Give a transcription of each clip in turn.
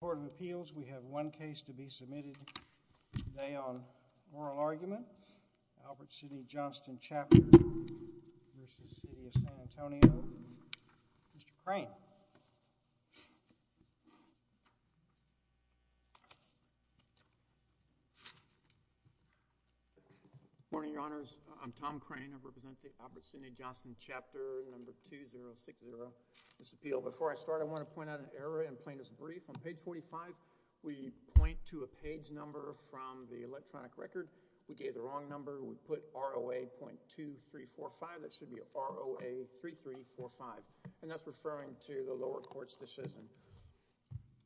portfolio of appeals, we have one case to be submitted today on moral argument, Albert Sidney Johnston Chapter v. City of San Antonio. Mr. Crane. Good morning, Your Honors. I'm Tom Crane. I represent the Albert Sidney Johnston Chapter No. 2060, this appeal. Before I start, I want to point out an error in plaintiff's brief. On page 45, we point to a page number from the electronic record. We gave the wrong number. We put ROA.2345. That should be ROA.3345, and that's referring to the lower court's decision.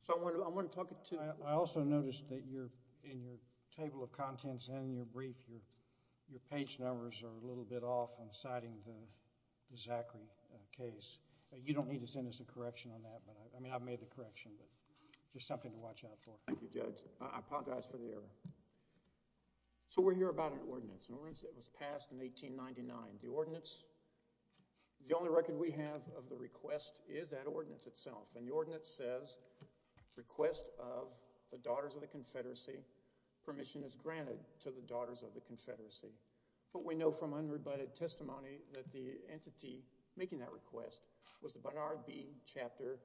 So I want to talk to... I also noticed that in your table of contents and in your brief, your page numbers are a little bit off in citing the Zachary case. You don't need to send us a correction on that, but... I mean, I've made the correction, but there's something to watch out for. Thank you, Judge. I apologize for the error. So we're here about an ordinance. An ordinance that was passed in 1899. The ordinance... the only record we have of the request is that ordinance itself, and the ordinance says, Request of the Daughters of the Confederacy. Permission is granted to the Daughters of the Confederacy, but we know from unrebutted testimony that the entity making that request was the Barnard B Chapter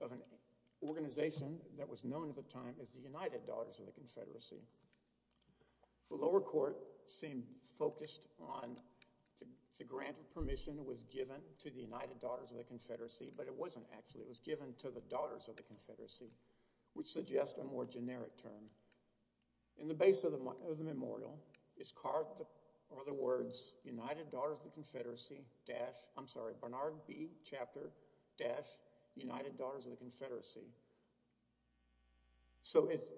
of an organization that was known at the time as the United Daughters of the Confederacy. The lower court seemed focused on the grant of permission was given to the United Daughters of the Confederacy, but it wasn't actually. It was given to the Daughters of the Confederacy, which suggests a more generic term. In the base of the memorial is carved, or the words, United Daughters of the Confederacy dash... I'm sorry, Barnard B Chapter dash United Daughters of the Confederacy. So it's...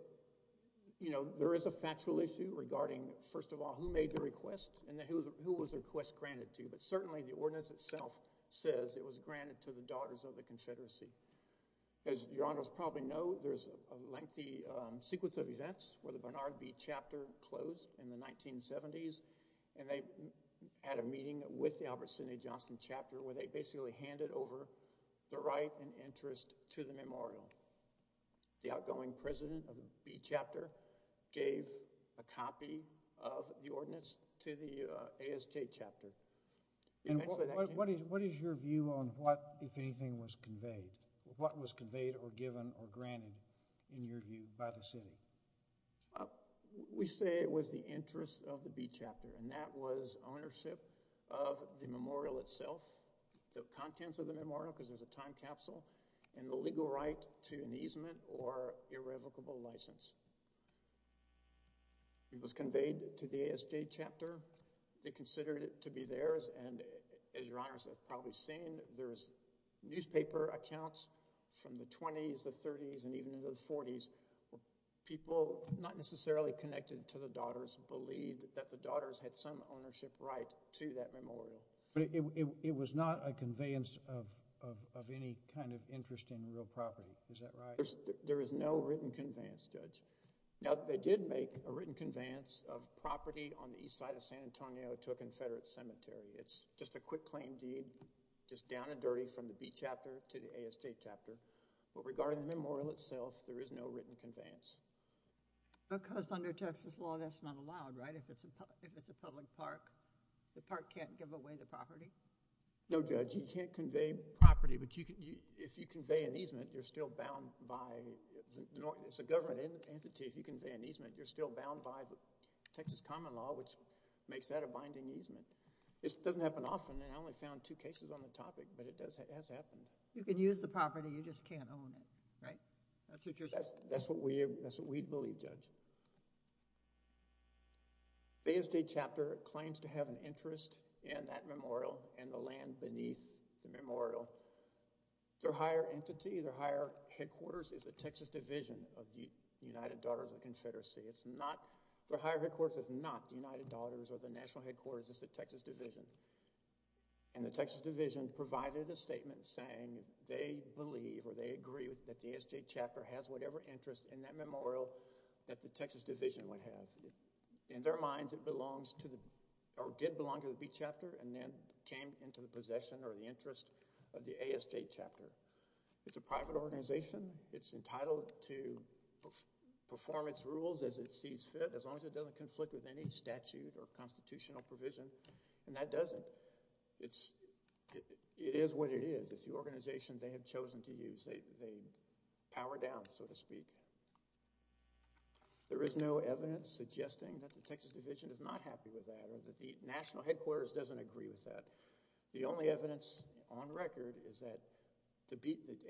you know, there is a factual issue regarding, first of all, who made the request and who was the request granted to, but certainly the ordinance itself says it was granted to the Daughters of the Confederacy. As Your Honor probably knows, there's a length to the sequence of events where the Barnard B Chapter closed in the 1970s, and they had a meeting with the Albert Sidney Johnston Chapter where they basically handed over the right and interest to the memorial. The outgoing president of the B Chapter gave a copy of the ordinance to the ASJ Chapter. And what is your view on what, if anything, was conveyed? Or given or granted, in your view, by the Senate? We say it was the interest of the B Chapter, and that was ownership of the memorial itself, the contents of the memorial, because there's a time capsule, and the legal right to an easement or irrevocable license. It was conveyed to the ASJ Chapter. They considered it to be theirs, and as Your Honor has probably seen, there's newspaper accounts from the 20s, the 30s, and even into the 40s. People not necessarily connected to the Daughters believed that the Daughters had some ownership right to that memorial. But it was not a conveyance of any kind of interest in real property, is that right? There is no written conveyance, Judge. Now, they did make a written conveyance of property on the east side of San Antonio to a Confederate cemetery. It's just a quick claim deed, just down and dirty from the B Chapter to the ASJ Chapter. But regarding the memorial itself, there is no written conveyance. Because under Texas law, that's not allowed, right? If it's a public park, the park can't give away the property? No, Judge. You can't convey property, but if you convey an easement, you're still bound by—it's a government entity. If you convey an easement, you're still bound by the Texas Common Law, which makes that a binding easement. This doesn't happen often, and I only found two cases on the topic, but it has happened. You can use the property, you just can't own it, right? That's what we believe, Judge. The ASJ Chapter claims to have an interest in that memorial and the land beneath the memorial. Their higher entity, their higher headquarters, is the Texas Division of the United Daughters of the Confederacy. It's not—their higher headquarters is not the ASJ Chapter. And the Texas Division provided a statement saying they believe, or they agree, that the ASJ Chapter has whatever interest in that memorial that the Texas Division would have. In their minds, it belongs to the—or did belong to the B Chapter and then came into the possession or the interest of the ASJ Chapter. It's a private organization. It's entitled to perform its rules as it sees fit, as long as it doesn't conflict with any statute or constitutional provision, and that doesn't. It's—it is what it is. It's the organization they have chosen to use. They power down, so to speak. There is no evidence suggesting that the Texas Division is not happy with that or that the national headquarters doesn't agree with that. The only evidence on record is that the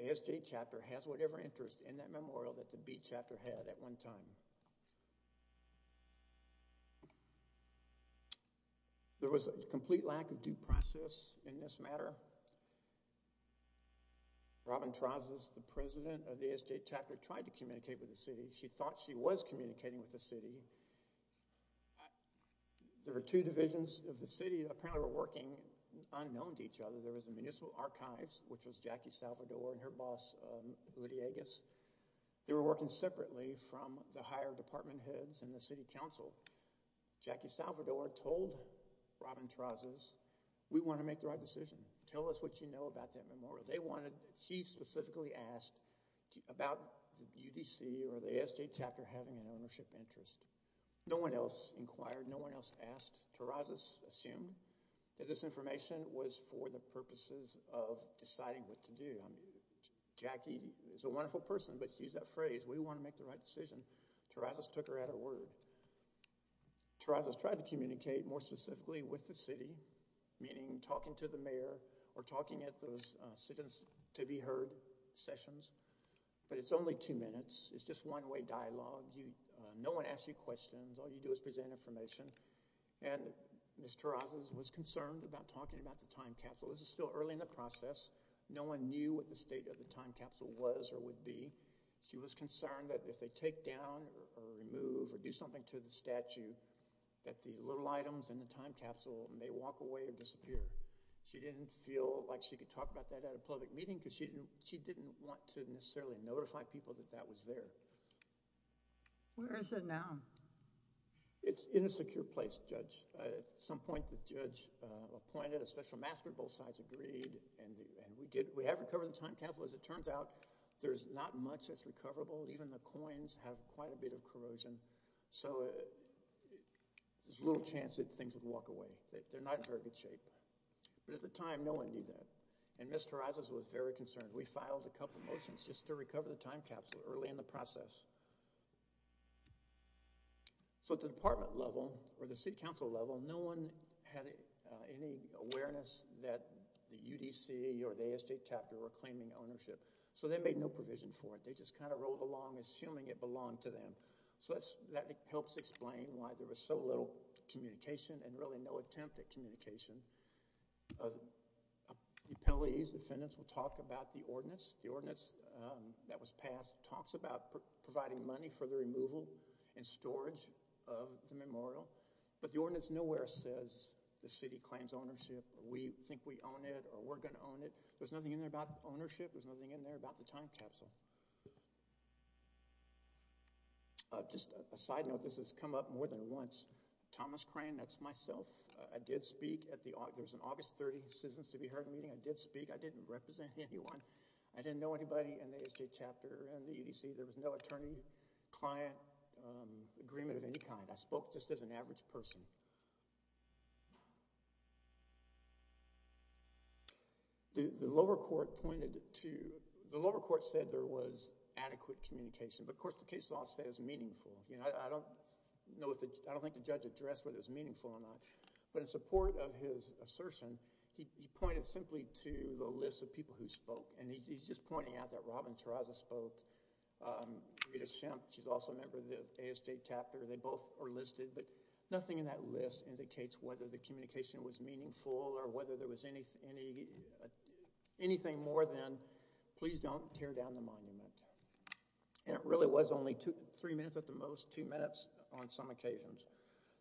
ASJ Chapter has whatever interest in that memorial that the B Chapter had at one time. There was a complete lack of due process in this matter. Robin Trazes, the president of the ASJ Chapter, tried to communicate with the city. She thought she was communicating with the city. There were two divisions of the city that apparently were working unknown to each other. There was the Municipal Archives, which was Jackie Salvador and her boss, Rudy Agus. They were working separately from the higher department heads and the city council. Jackie Salvador told Robin Trazes, we want to make the right decision. Tell us what you know about that memorial. They wanted—she specifically asked about the UDC or the ASJ Chapter having an ownership interest. No one else inquired. No one else asked. Trazes assumed that this information was for the purposes of deciding what to do. Jackie is a wonderful person, but she used that phrase, we want to make the right decision. Trazes took her at her word. Trazes tried to communicate more specifically with the city, meaning talking to the mayor or talking at those sit-ins to be heard sessions, but it's only two minutes. It's just one-way dialogue. No one asks you questions. All you do is present information, and Ms. Trazes was concerned about talking about the time capsule. This is still early in the process. No one knew what the state of the time capsule was or would be. She was concerned that if they take down or remove or do something to the statue, that the little items in the time capsule may walk away and disappear. She didn't feel like she could talk about that at a public meeting because she didn't want to necessarily notify people that that was there. Where is it now? It's in a secure place, Judge. At some point, the judge appointed a special master. Both sides agreed, and we have recovered the time capsule. As it turns out, there's not much that's recoverable. Even the coins have quite a bit of corrosion, so there's a little chance that things would walk away. They're not in very good shape, but at the time, no one knew that, and Ms. Trazes was very concerned. We filed a couple motions just to recover the time capsule early in the process. At the department level, or the city council level, no one had any awareness that the UDC or the ASJ chapter were claiming ownership, so they made no provision for it. They just kind of rolled along, assuming it belonged to them. That helps explain why there was so little communication and really no attempt at communication. The penalties defendants will talk about the ordinance. The ordinance is providing money for the removal and storage of the memorial, but the ordinance nowhere says the city claims ownership. We think we own it, or we're going to own it. There's nothing in there about ownership. There's nothing in there about the time capsule. Just a side note, this has come up more than once. Thomas Crane, that's myself. I did speak at the August 30 Citizens to be Heard meeting. I did speak. I didn't represent anyone. I didn't know anybody in the ASJ chapter and the UDC. There was no attorney-client agreement of any kind. I spoke just as an average person. The lower court said there was adequate communication, but of course the case law said it was meaningful. I don't think the judge addressed whether it was meaningful or not, but in support of his assertion, he pointed simply to the list of people who spoke, and he's just Rita Shemp, she's also a member of the ASJ chapter. They both are listed, but nothing in that list indicates whether the communication was meaningful or whether there was anything more than please don't tear down the monument. And it really was only two, three minutes at the most, two minutes on some occasions.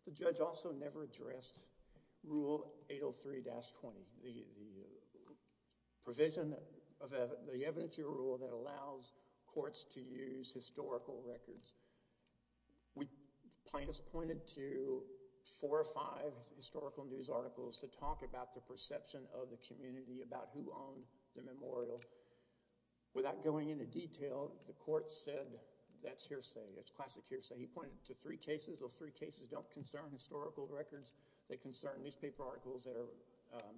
The judge also never addressed Rule 803-20, the provision of the evidentiary rule that allows courts to use historical records. Plaintiffs pointed to four or five historical news articles to talk about the perception of the community about who owned the memorial. Without going into detail, the court said that's hearsay. It's classic hearsay. He pointed to three cases. Those three cases don't concern historical records. They concern newspaper articles that are,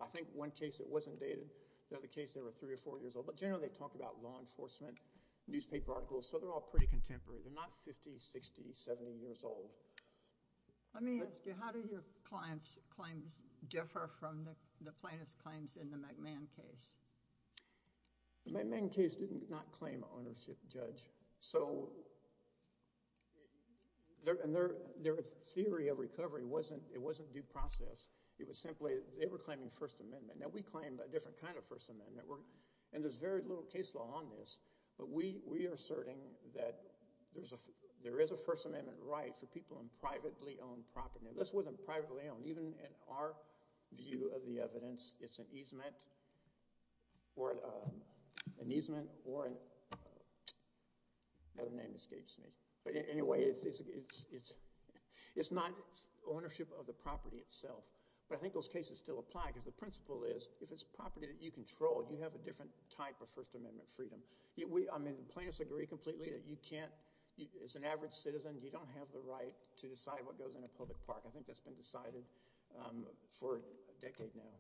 I think one case that wasn't dated, the other case they were three or four years old, but generally they talk about law enforcement, newspaper articles, so they're all pretty contemporary. They're not 50, 60, 70 years old. Let me ask you, how do your client's claims differ from the plaintiff's claims in the McMahon case? The McMahon case did not claim ownership, Judge, so their theory of recovery wasn't due process. It was simply, they were very little case law on this, but we are asserting that there is a First Amendment right for people in privately owned property, and this wasn't privately owned. Even in our view of the evidence, it's an easement or, another name escapes me, but anyway, it's not ownership of the property itself, but I think those cases still apply because the principle is if it's property that you control, you have a different type of First Amendment freedom. We, I mean, plaintiffs agree completely that you can't, as an average citizen, you don't have the right to decide what goes in a public park. I think that's been decided for a decade now.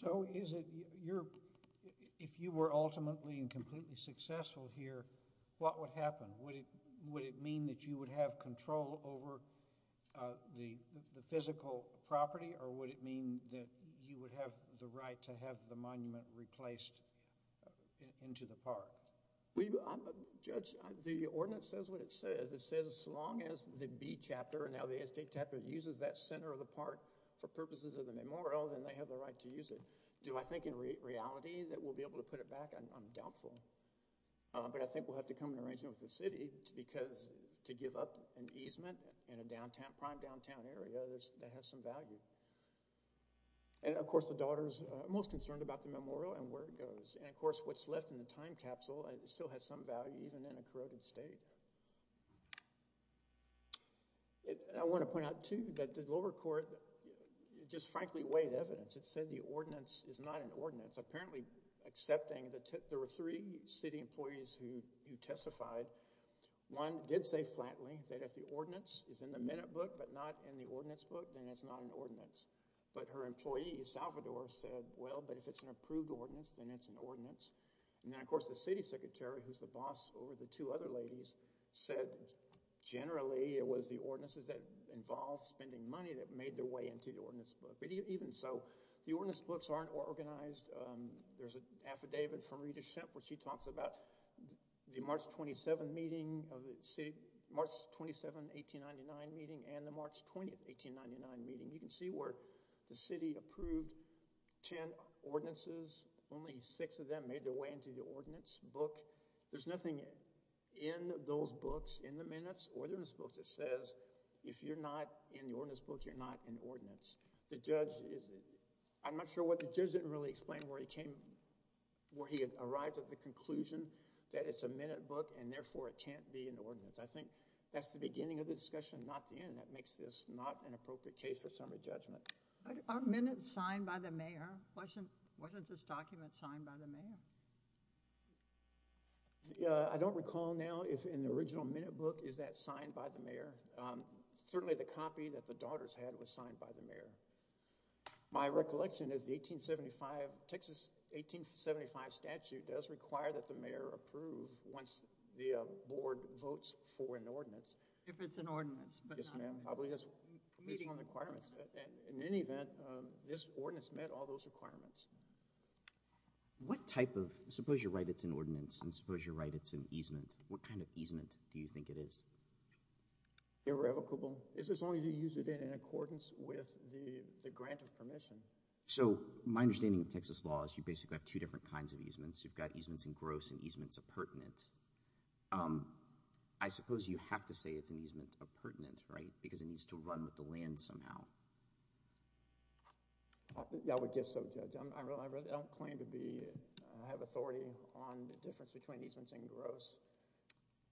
So is it your, if you were ultimately and completely successful here, what would happen? Would it mean that you would have control over the physical property, or would it mean that you would have the right to have the monument replaced into the park? We, Judge, the ordinance says what it says. It says as long as the B chapter, and now the S.J. chapter, uses that center of the park for purposes of the memorial, then they have the right to use it. Do I think in reality that we'll be able to put it back? I'm doubtful, but I think we'll have to come to an arrangement with the city because to give up an easement in a downtown, prime downtown area, that has some value. And, of course, the daughter's most concerned about the memorial and where it goes. And, of course, what's left in the time capsule still has some value even in a corroded state. I want to point out, too, that the lower court just frankly weighed evidence. It said the ordinance is not an ordinance, apparently accepting that there were three city employees who testified. One did say flatly that if the ordinance is in the minute book but not in the ordinance book, then it's not an ordinance. But her employee, Salvador, said, well, but if it's an approved ordinance, then it's an ordinance. And then, of course, the city secretary, who's the boss over the two other ladies, said generally it was the ordinances that involved spending money that made their way into the ordinance book. But even so, the ordinance books aren't organized. There's an affidavit from Rita Shemp where she and the Marks pointed 1899 meeting. You can see where the city approved 10 ordinances. Only six of them made their way into the ordinance book. There's nothing in those books, in the minutes ordinance book, that says if you're not in the ordinance book, you're not in the ordinance. The judge, I'm not sure what the judge didn't really explain where he came, where he had arrived at the conclusion that it's a minute book and therefore it can't be an ordinance. I think that's the beginning of the discussion, not the end. That makes this not an appropriate case for summary judgment. Are minutes signed by the mayor? Wasn't this document signed by the mayor? I don't recall now if in the original minute book is that signed by the mayor. Certainly, the copy that the daughters had was signed by the mayor. My recollection is the 1875, Texas 1875 statute does require that the mayor approve once the board votes for an ordinance. If it's an ordinance. Yes, ma'am. I believe that's one of the requirements. In any event, this ordinance met all those requirements. What type of, suppose you write it's an ordinance and suppose you write it's an easement, what kind of easement do you think it is? Irrevocable. It's as long as you use it in accordance with the grant of permission. So my understanding of Texas law is you basically have two different kinds of easements. You've got easements in gross and easements appurtenant. I suppose you have to say it's an easement appurtenant, right? Because it needs to run with the land somehow. I would guess so. I don't claim to have authority on the difference between easements and gross.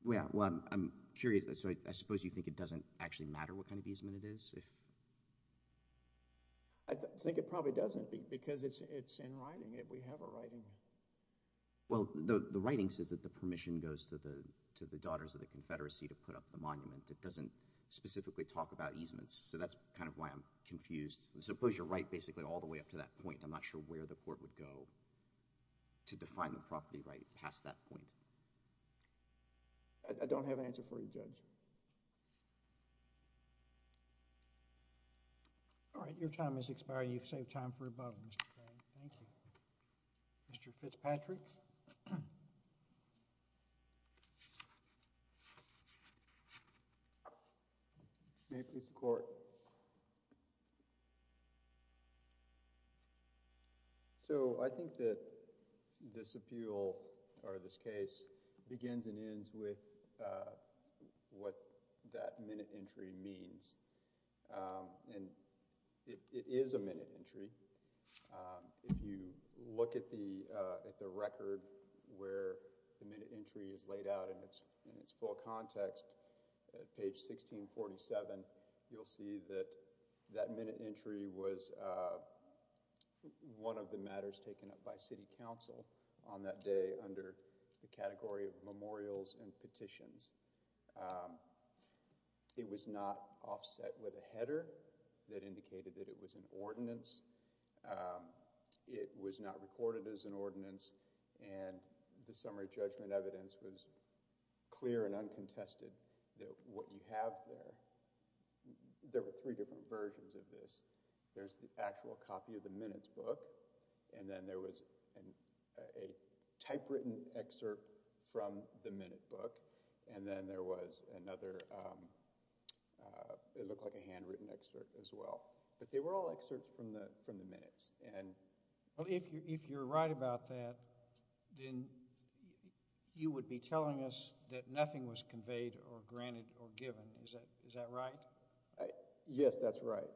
Well, I'm curious. I suppose you think it doesn't actually matter what kind of easement it is? I think it probably doesn't because it's in writing. We have a writing. Well, the writing says that the permission goes to the Daughters of the Confederacy to put up the monument. It doesn't specifically talk about easements. So that's kind of why I'm confused. Suppose you write basically all the way up to that point. I'm not sure where the court would go to define the property right past that point. I don't have an answer for you, Judge. All right. Your time has expired. You've saved time for a vote, Mr. Craig. Thank you. Mr. Fitzpatrick. May it please the Court. So I think that this appeal, or this case, begins and ends with what that minute entry means. And it is a minute entry. If you look at the record where the minute entry is laid out in its full context, at page 1647, you'll see that that minute entry was one of the matters taken up by City Council on that day under the category of memorials and petitions. It was not offset with a header that indicated that it was an ordinance. It was not recorded as an ordinance. And the summary judgment evidence was clear and uncontested that what you have there, there were three different versions of this. There's the actual copy of the minute book. And then there was a typewritten excerpt from the minute book. And then there was another, it looked like a handwritten excerpt as well. But they were all excerpts from the minutes. If you're right about that, then you would be telling us that nothing was conveyed or granted or given. Is that right? Yes, that's right.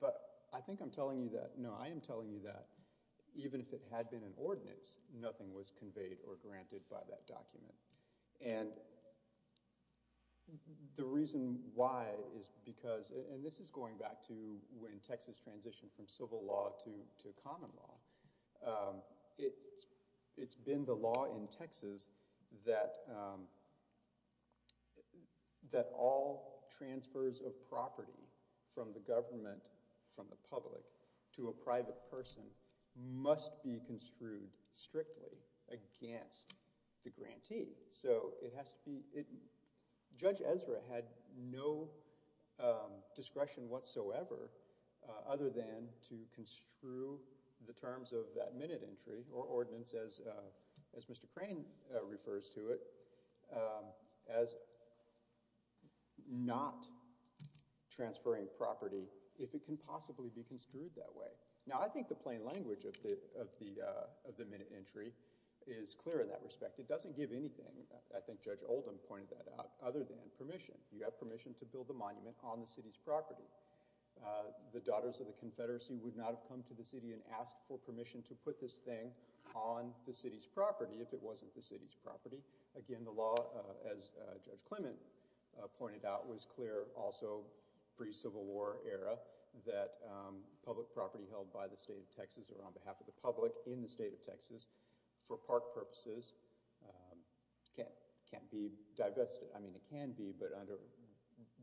But I think I'm telling you that, no, I am telling you that even if it had been an ordinance, nothing was conveyed or given. And the reason why is because, and this is going back to when Texas transitioned from civil law to common law, it's been the law in Texas that all transfers of property from the government, from the public, to a private person must be construed strictly against the grantee. So it has to be, Judge Ezra had no discretion whatsoever other than to construe the terms of that minute entry or ordinance as Mr. Crane refers to it, as not transferring property if it can possibly be construed that way. Now I think the plain language of the minute entry is clear in that respect. It doesn't give anything, I think Judge Oldham pointed that out, other than permission. You have permission to build a monument on the city's property. The daughters of the Confederacy would not have come to the city and asked for permission to put this thing on the city's property if it wasn't the city's property. Again, the law, as Judge Clement pointed out, was clear also pre-Civil War era that public property held by the state of Texas or on behalf of the So, foR our purposes, it can't be divested, I mean it can be, but under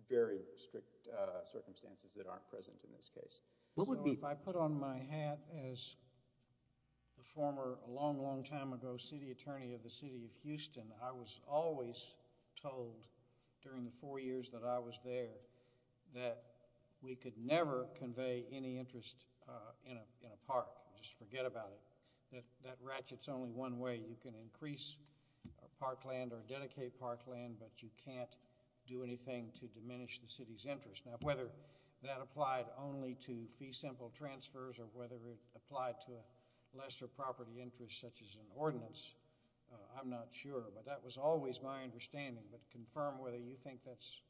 very strict circumstances that aren't present in this case. So, if I put on my hat as a former, a long, long time ago, city attorney of the city of Houston, I was always told during the four years that I was there that we could never convey any interest in a park, just forget about it, that that ratchet's only one way. You can increase a parkland or dedicate parkland, but you can't do anything to diminish the city's interest. Now, whether that applied only to fee simple transfers or whether it applied to a lesser property interest such as an ordinance, I'm not sure, but that was always my understanding, but confirm whether you think that's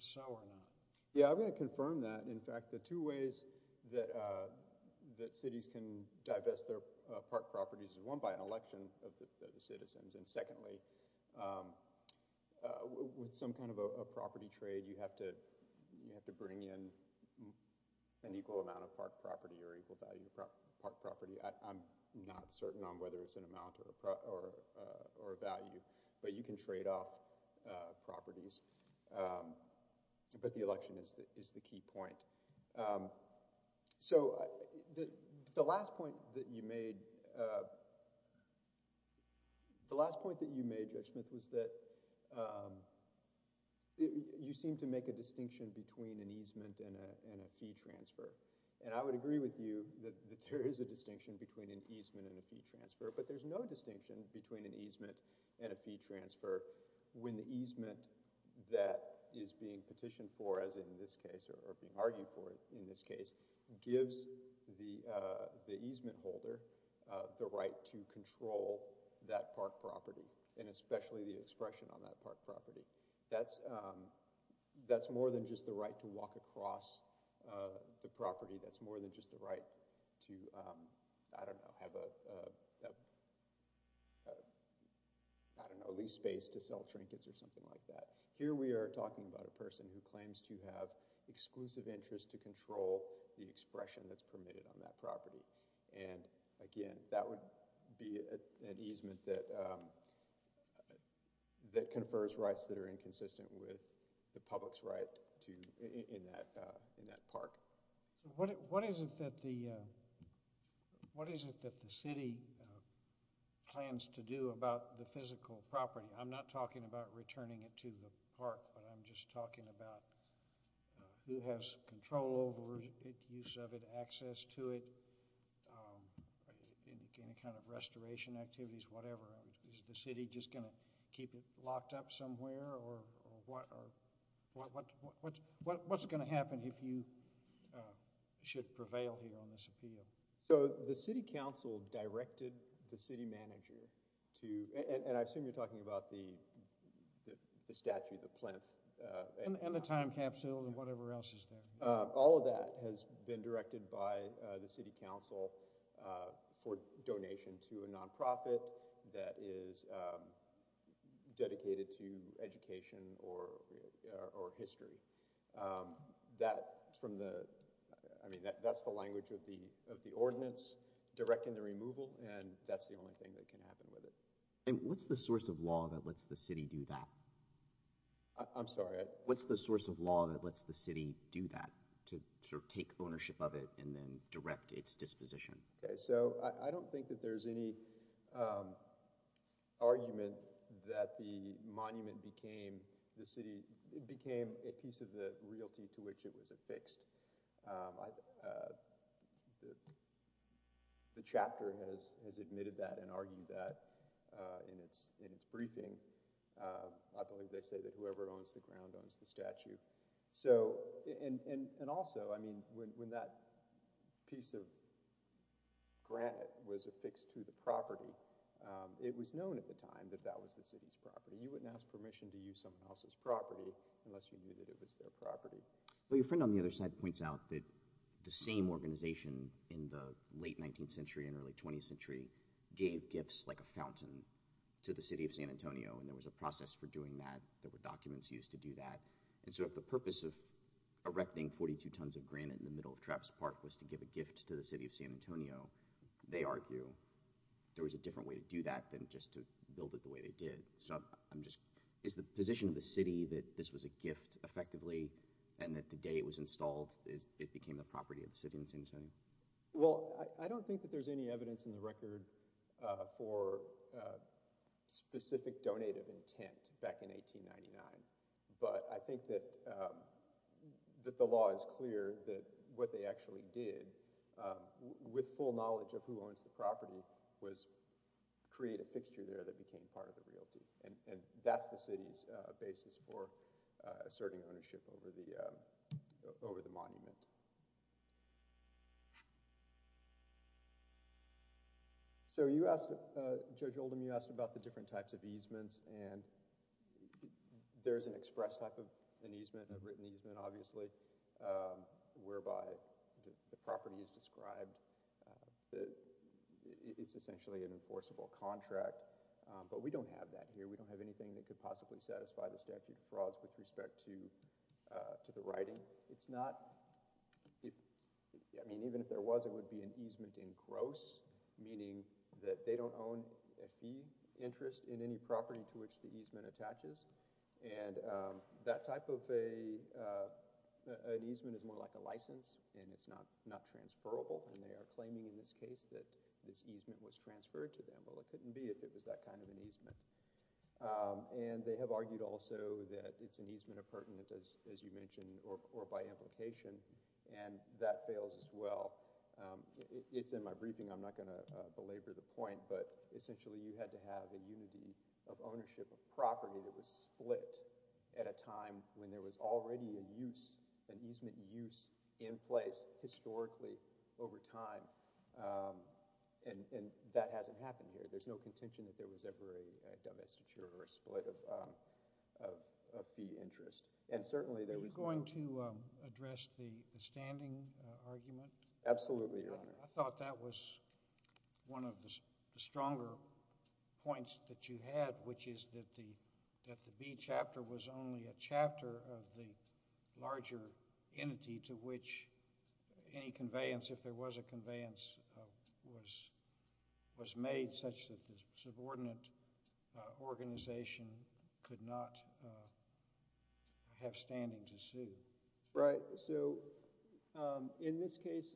so or not. Yeah, I'm going to confirm that. In fact, the two ways that cities can divest their park properties is one, by an election of the citizens, and to bring in an equal amount of park property or equal value of park property. I'm not certain on whether it's an amount or a value, but you can trade off properties, but the election is the key point. So, the last point that you made, Judge Smith, is that you seem to make a distinction between an easement and a fee transfer, and I would agree with you that there is a distinction between an easement and a fee transfer, but there's no distinction between an easement and a fee transfer when the easement that is being petitioned for, as in this case, or being argued for in this case, gives the easement holder the right to control that park property, and especially the expression on that park property. That's more than just the right to walk across the property. That's more than just the right to, I don't know, have a lease space to sell trinkets or something like that. Here we are talking about a person who claims to have exclusive interest to control the expression that's permitted on that property, and again, that would be an easement that confers rights that are inconsistent with the public's right in that park. What is it that the city plans to do about the physical property? I'm not talking about returning it to the park, but I'm just talking about who has control over it, use of it, access to it, any kind of restoration activities, whatever. Is the city just going to keep it locked up somewhere, or what's going to happen if you should prevail here on this appeal? So the city council directed the city manager to, and I assume you're talking about the statue, the plinth. And the time capsule, and whatever else is there. All of that has been directed by the city council for donation to a non-profit that is dedicated to education or history. That's the language of the ordinance directing the removal, and that's the only thing that can happen with it. And what's the source of law that lets the city do that? I'm sorry? What's the source of law that lets the city do that, to sort of take ownership of it and then direct its disposition? Okay, so I don't think that there's any argument that the monument became a piece of the realty which it was affixed. The chapter has admitted that and argued that in its briefing. I believe they say that whoever owns the ground owns the statue. And also, when that piece of granite was affixed to the property, it was known at the time that that was the city's property. You wouldn't ask permission to use someone else's property unless you knew that it was their property. Your friend on the other side points out that the same organization in the late 19th century and early 20th century gave gifts like a fountain to the city of San Antonio, and there was a process for doing that. There were documents used to do that. And so if the purpose of erecting 42 tons of granite in the middle of Trappist Park was to give a gift to the city of San Antonio, they argue there was a different way to do that than just to build it the way it did. Is the position of the city that this was a gift, effectively, and that the day it was installed it became the property of the city of San Antonio? Well, I don't think that there's any evidence in the record for specific donated intent back in 1899. But I think that the law is clear that what they actually did, with full knowledge of who owns the property, was create a fixture there that became part of the realty. And that's the city's basis for asserting ownership over the monument. So you asked, Judge Oldham, you asked about the different types of easements, and there's an express type of an easement, a written easement, obviously, whereby the property is described that it's essentially an enforceable contract. But we don't have that here. We don't have anything that could possibly satisfy the statute of frauds with respect to the writing. I mean, even if there was, it would be an easement in gross, meaning that they don't own a fee interest in any property to which the easement attaches. And that type of an easement is more like a license, and it's not transferable. And they are claiming in this case that this easement was transferred to them. Well, it couldn't be if it was that kind of an easement. And they have argued also that it's an easement of pertinent, as you mentioned, or by implication. And that fails as well. It's in my briefing. I'm not going to split at a time when there was already a use, an easement use in place historically over time. And that hasn't happened here. There's no contention that there was ever a domestic or a split of fee interest. And certainly, there was... You're going to address the standing argument? Absolutely, Your Honor. I thought that was one of the stronger points that you had, which is that the B chapter was only a chapter of the larger entity to which any conveyance, if there was a conveyance, was made such that the subordinate organization could not have standing to sue. Right. So in this case,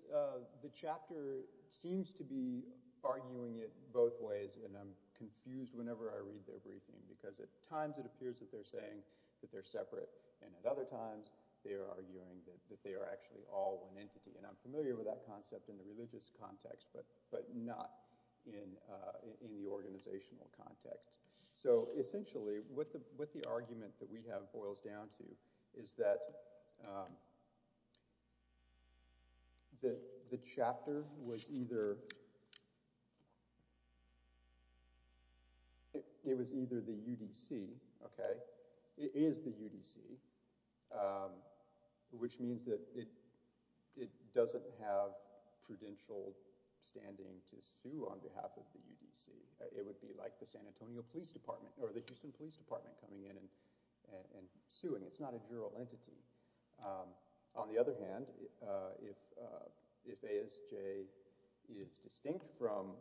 the chapter seems to be arguing it both ways. And I'm confused whenever I read their briefing, because at times it appears that they're saying that they're separate. And at other times, they are arguing that they are actually all one entity. And I'm familiar with that concept in the religious context, but not in the organizational context. So essentially, what the argument that we have boils down to is that the chapter was either... It was either the UDC, okay? It is the UDC, which means that it doesn't have prudential standing to sue on behalf of the UDC. It would be like the San Antonio Police Department or the Houston Police Department coming in and suing. It's not a juror entity. On the other hand, if ASJ is distinct from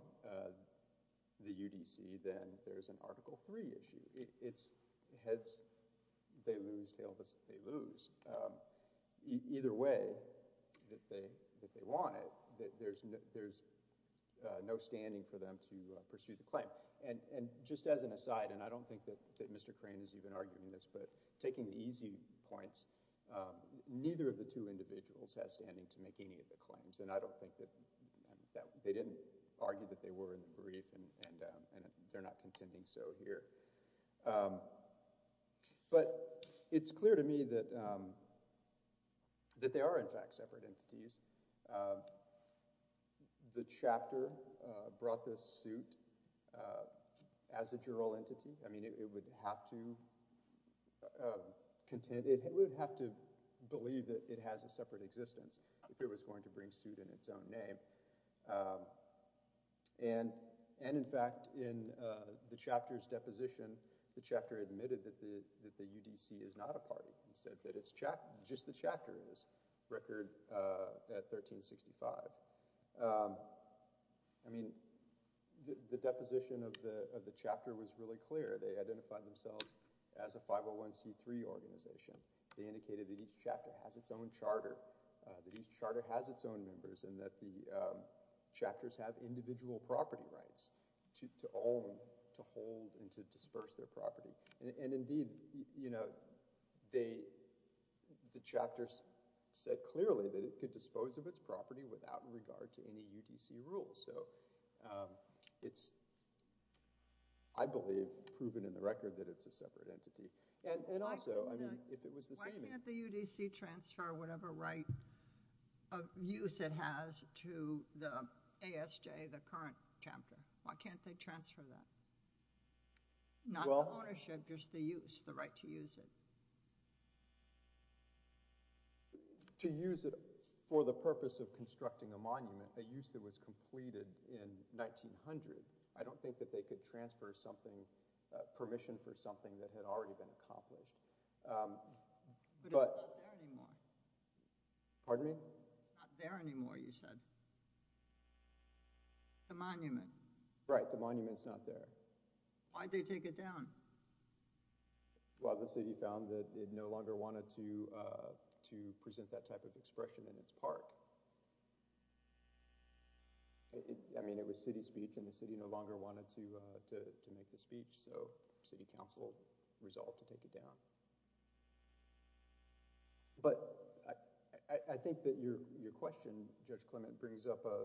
the UDC, then there's an Article III issue. Heads, they lose. Tails, they lose. Either way that they want it, there's no standing for them to pursue the claim. And just as an aside, and I don't think that Mr. Crane is even arguing this, but taking the easy points, neither of the two individuals has standing to make any of the claims. And I don't think that they didn't argue that they were in the brief, and they're not contending so here. But it's clear to me that they are, in fact, separate entities. The chapter brought this suit as a juror entity. I mean, it would have to believe that it has a separate existence if it was going to bring suit in its own name. And in fact, in the chapter's deposition, the chapter admitted that the UDC is not a party. He said that it's just the chapter in this record at 1365. I mean, the deposition of the chapter was really clear. They identified themselves as a 501c3 organization. They indicated that each chapter has its own charter, that each charter has its own members, and that the chapters have individual property rights to own, to hold, and to disperse their property. And indeed, you know, the chapter said clearly that it could dispose of its property without regard to any UDC rule. So it's, I believe, proven in the record that it's a separate entity. And also, I mean, if it was the same— Why can't the UDC transfer whatever right of use it has to the right to use it? To use it for the purpose of constructing a monument, a use that was completed in 1900. I don't think that they could transfer something, permission for something that had already been accomplished. But it's not there anymore. Pardon me? It's not there anymore, you said. The monument. Right, the monument's not there. Why'd they take it down? Well, the city found that it no longer wanted to present that type of expression in its park. I mean, it was city speech, and the city no longer wanted to make the speech, so city council resolved to take it down. But I think that your question, Judge Clement, brings up a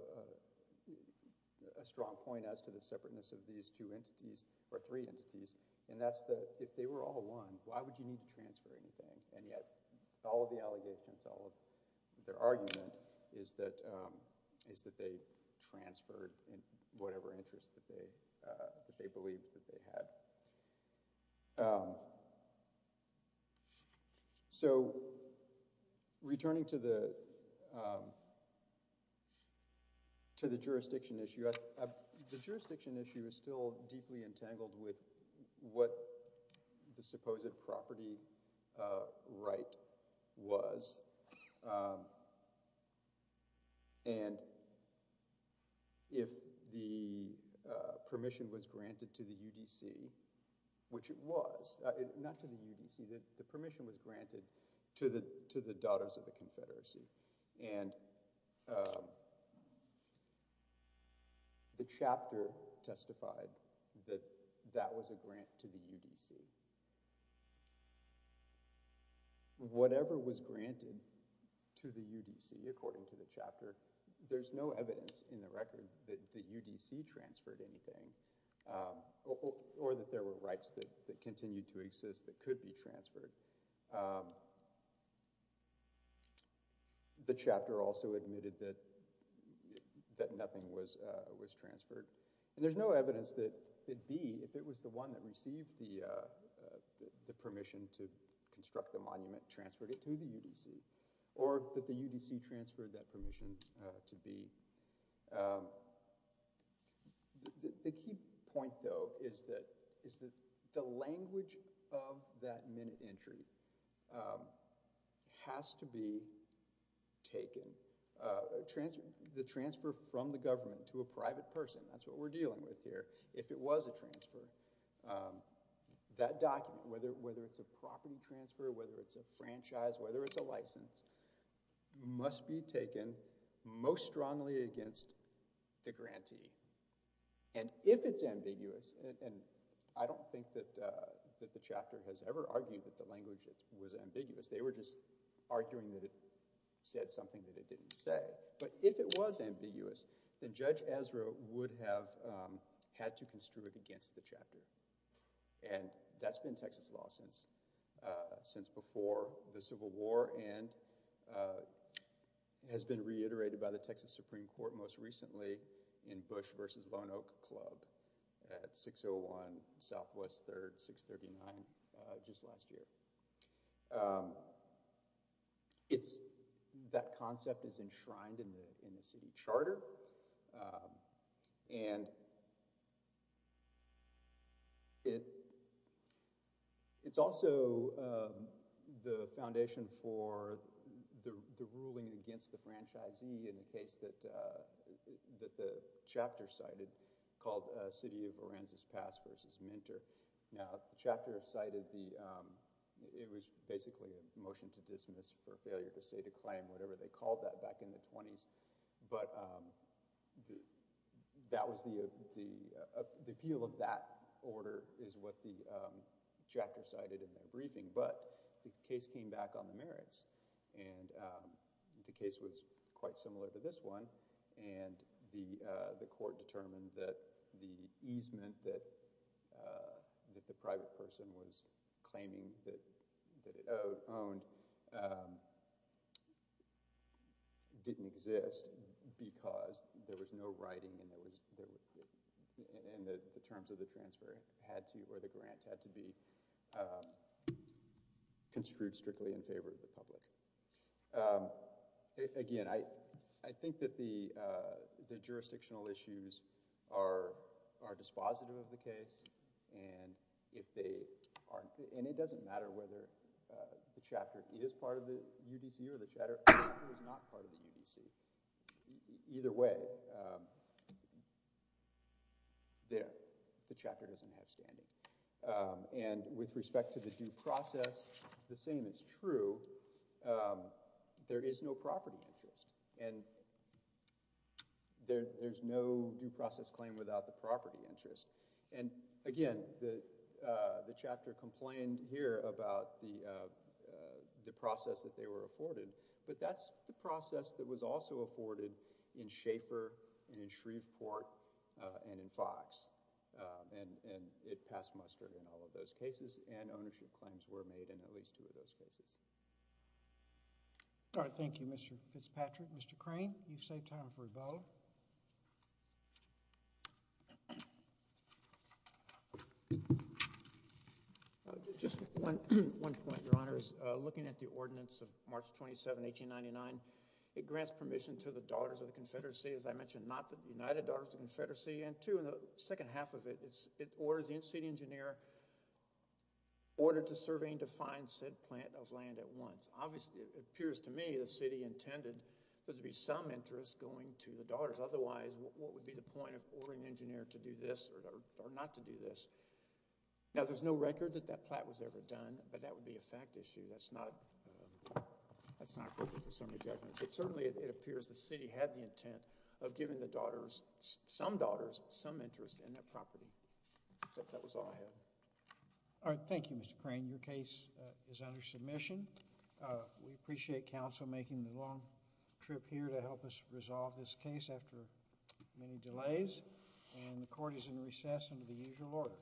strong point as to the separateness of these two entities, or three entities. And that's that, if they were all one, why would you need to transfer anything? And yet, all of the allegations, all of their argument is that they transferred in whatever interest that they believed that they had. So, returning to the jurisdiction issue, the jurisdiction issue is still deeply entangled with what the supposed property right was. And if the permission was granted to the UDC, which it was, not to the UDC, the permission was granted to the Daughters of the Confederacy. And the chapter testified that that was a grant to the UDC. Whatever was granted to the UDC, according to the chapter, there's no evidence in the record that the UDC transferred anything, or that there were rights that continued to exist that could be transferred. The chapter also admitted that nothing was transferred. And there's no evidence that it'd be, if it was the one that received the permission to construct the monument, transferred it to the UDC, or that the UDC transferred that permission to be. The key point, though, is that the language of that minute entry has to be taken. The transfer from the government to a private person, that's what we're dealing with here. If it was a transfer, that document, whether it's a property transfer, whether it's a franchise, whether it's a license, must be taken most strongly against the grantee. And if it's ambiguous, and I don't think that the chapter has ever argued that the language was ambiguous. They were just arguing that it said something that it didn't say. But if it was ambiguous, then Judge Ezra would have had to construe it against the chapter. And that's been Texas law since before the Civil War and has been reiterated by the Texas Supreme Court most recently in Bush versus Lone Oak Club at 601 Southwest 3rd, 639, just last year. And that concept is enshrined in the city charter. And it's also the foundation for the ruling against the franchisee in the case that the chapter cited called City of Lorenzo's Past versus Minter. Now, the chapter cited the it was basically a motion to dismiss for failure to say to claim whatever they called that back in the 20s. But the appeal of that order is what the chapter cited in the briefing. But the case came back on the merits. And the case was quite similar to this one. And the court determined that the private person was claiming that it owned didn't exist because there was no writing in the terms of the transfer or the grant had to be construed strictly in favor of the public. Again, I think that the jurisdictional issues are dispositive of the case. And it doesn't matter whether the chapter is part of the UDC or the chapter is not part of the UDC. Either way, the chapter doesn't have standing. And with respect to the due process, the same is true. There is no property interest. And there's no due process claim without the property interest. And again, the chapter complained here about the process that they were afforded. But that's the process that was also afforded in Schaeffer and in Shreveport and in Fox. And it passed in all of those cases. And ownership claims were made in at least two of those cases. All right. Thank you, Mr. Fitzpatrick. Mr. Crane, you've saved time for a vote. Just one point, Your Honors. Looking at the ordinance of March 27, 1899, it grants permission to the Daughters of the Confederacy, as I mentioned, not the United Daughters of the Confederacy, to be an engineer, ordered to survey and define said plant of land at once. Obviously, it appears to me the city intended there to be some interest going to the Daughters. Otherwise, what would be the point of ordering an engineer to do this or not to do this? Now, there's no record that that plot was ever done, but that would be a fact issue. That's not good for some of the judgments. But certainly, it appears the city had the intent of giving the Daughters, some Daughters, some interest in that property. But that was all I have. All right. Thank you, Mr. Crane. Your case is under submission. We appreciate counsel making the long trip here to help us resolve this case after many delays. And the Court is in recess under the usual order.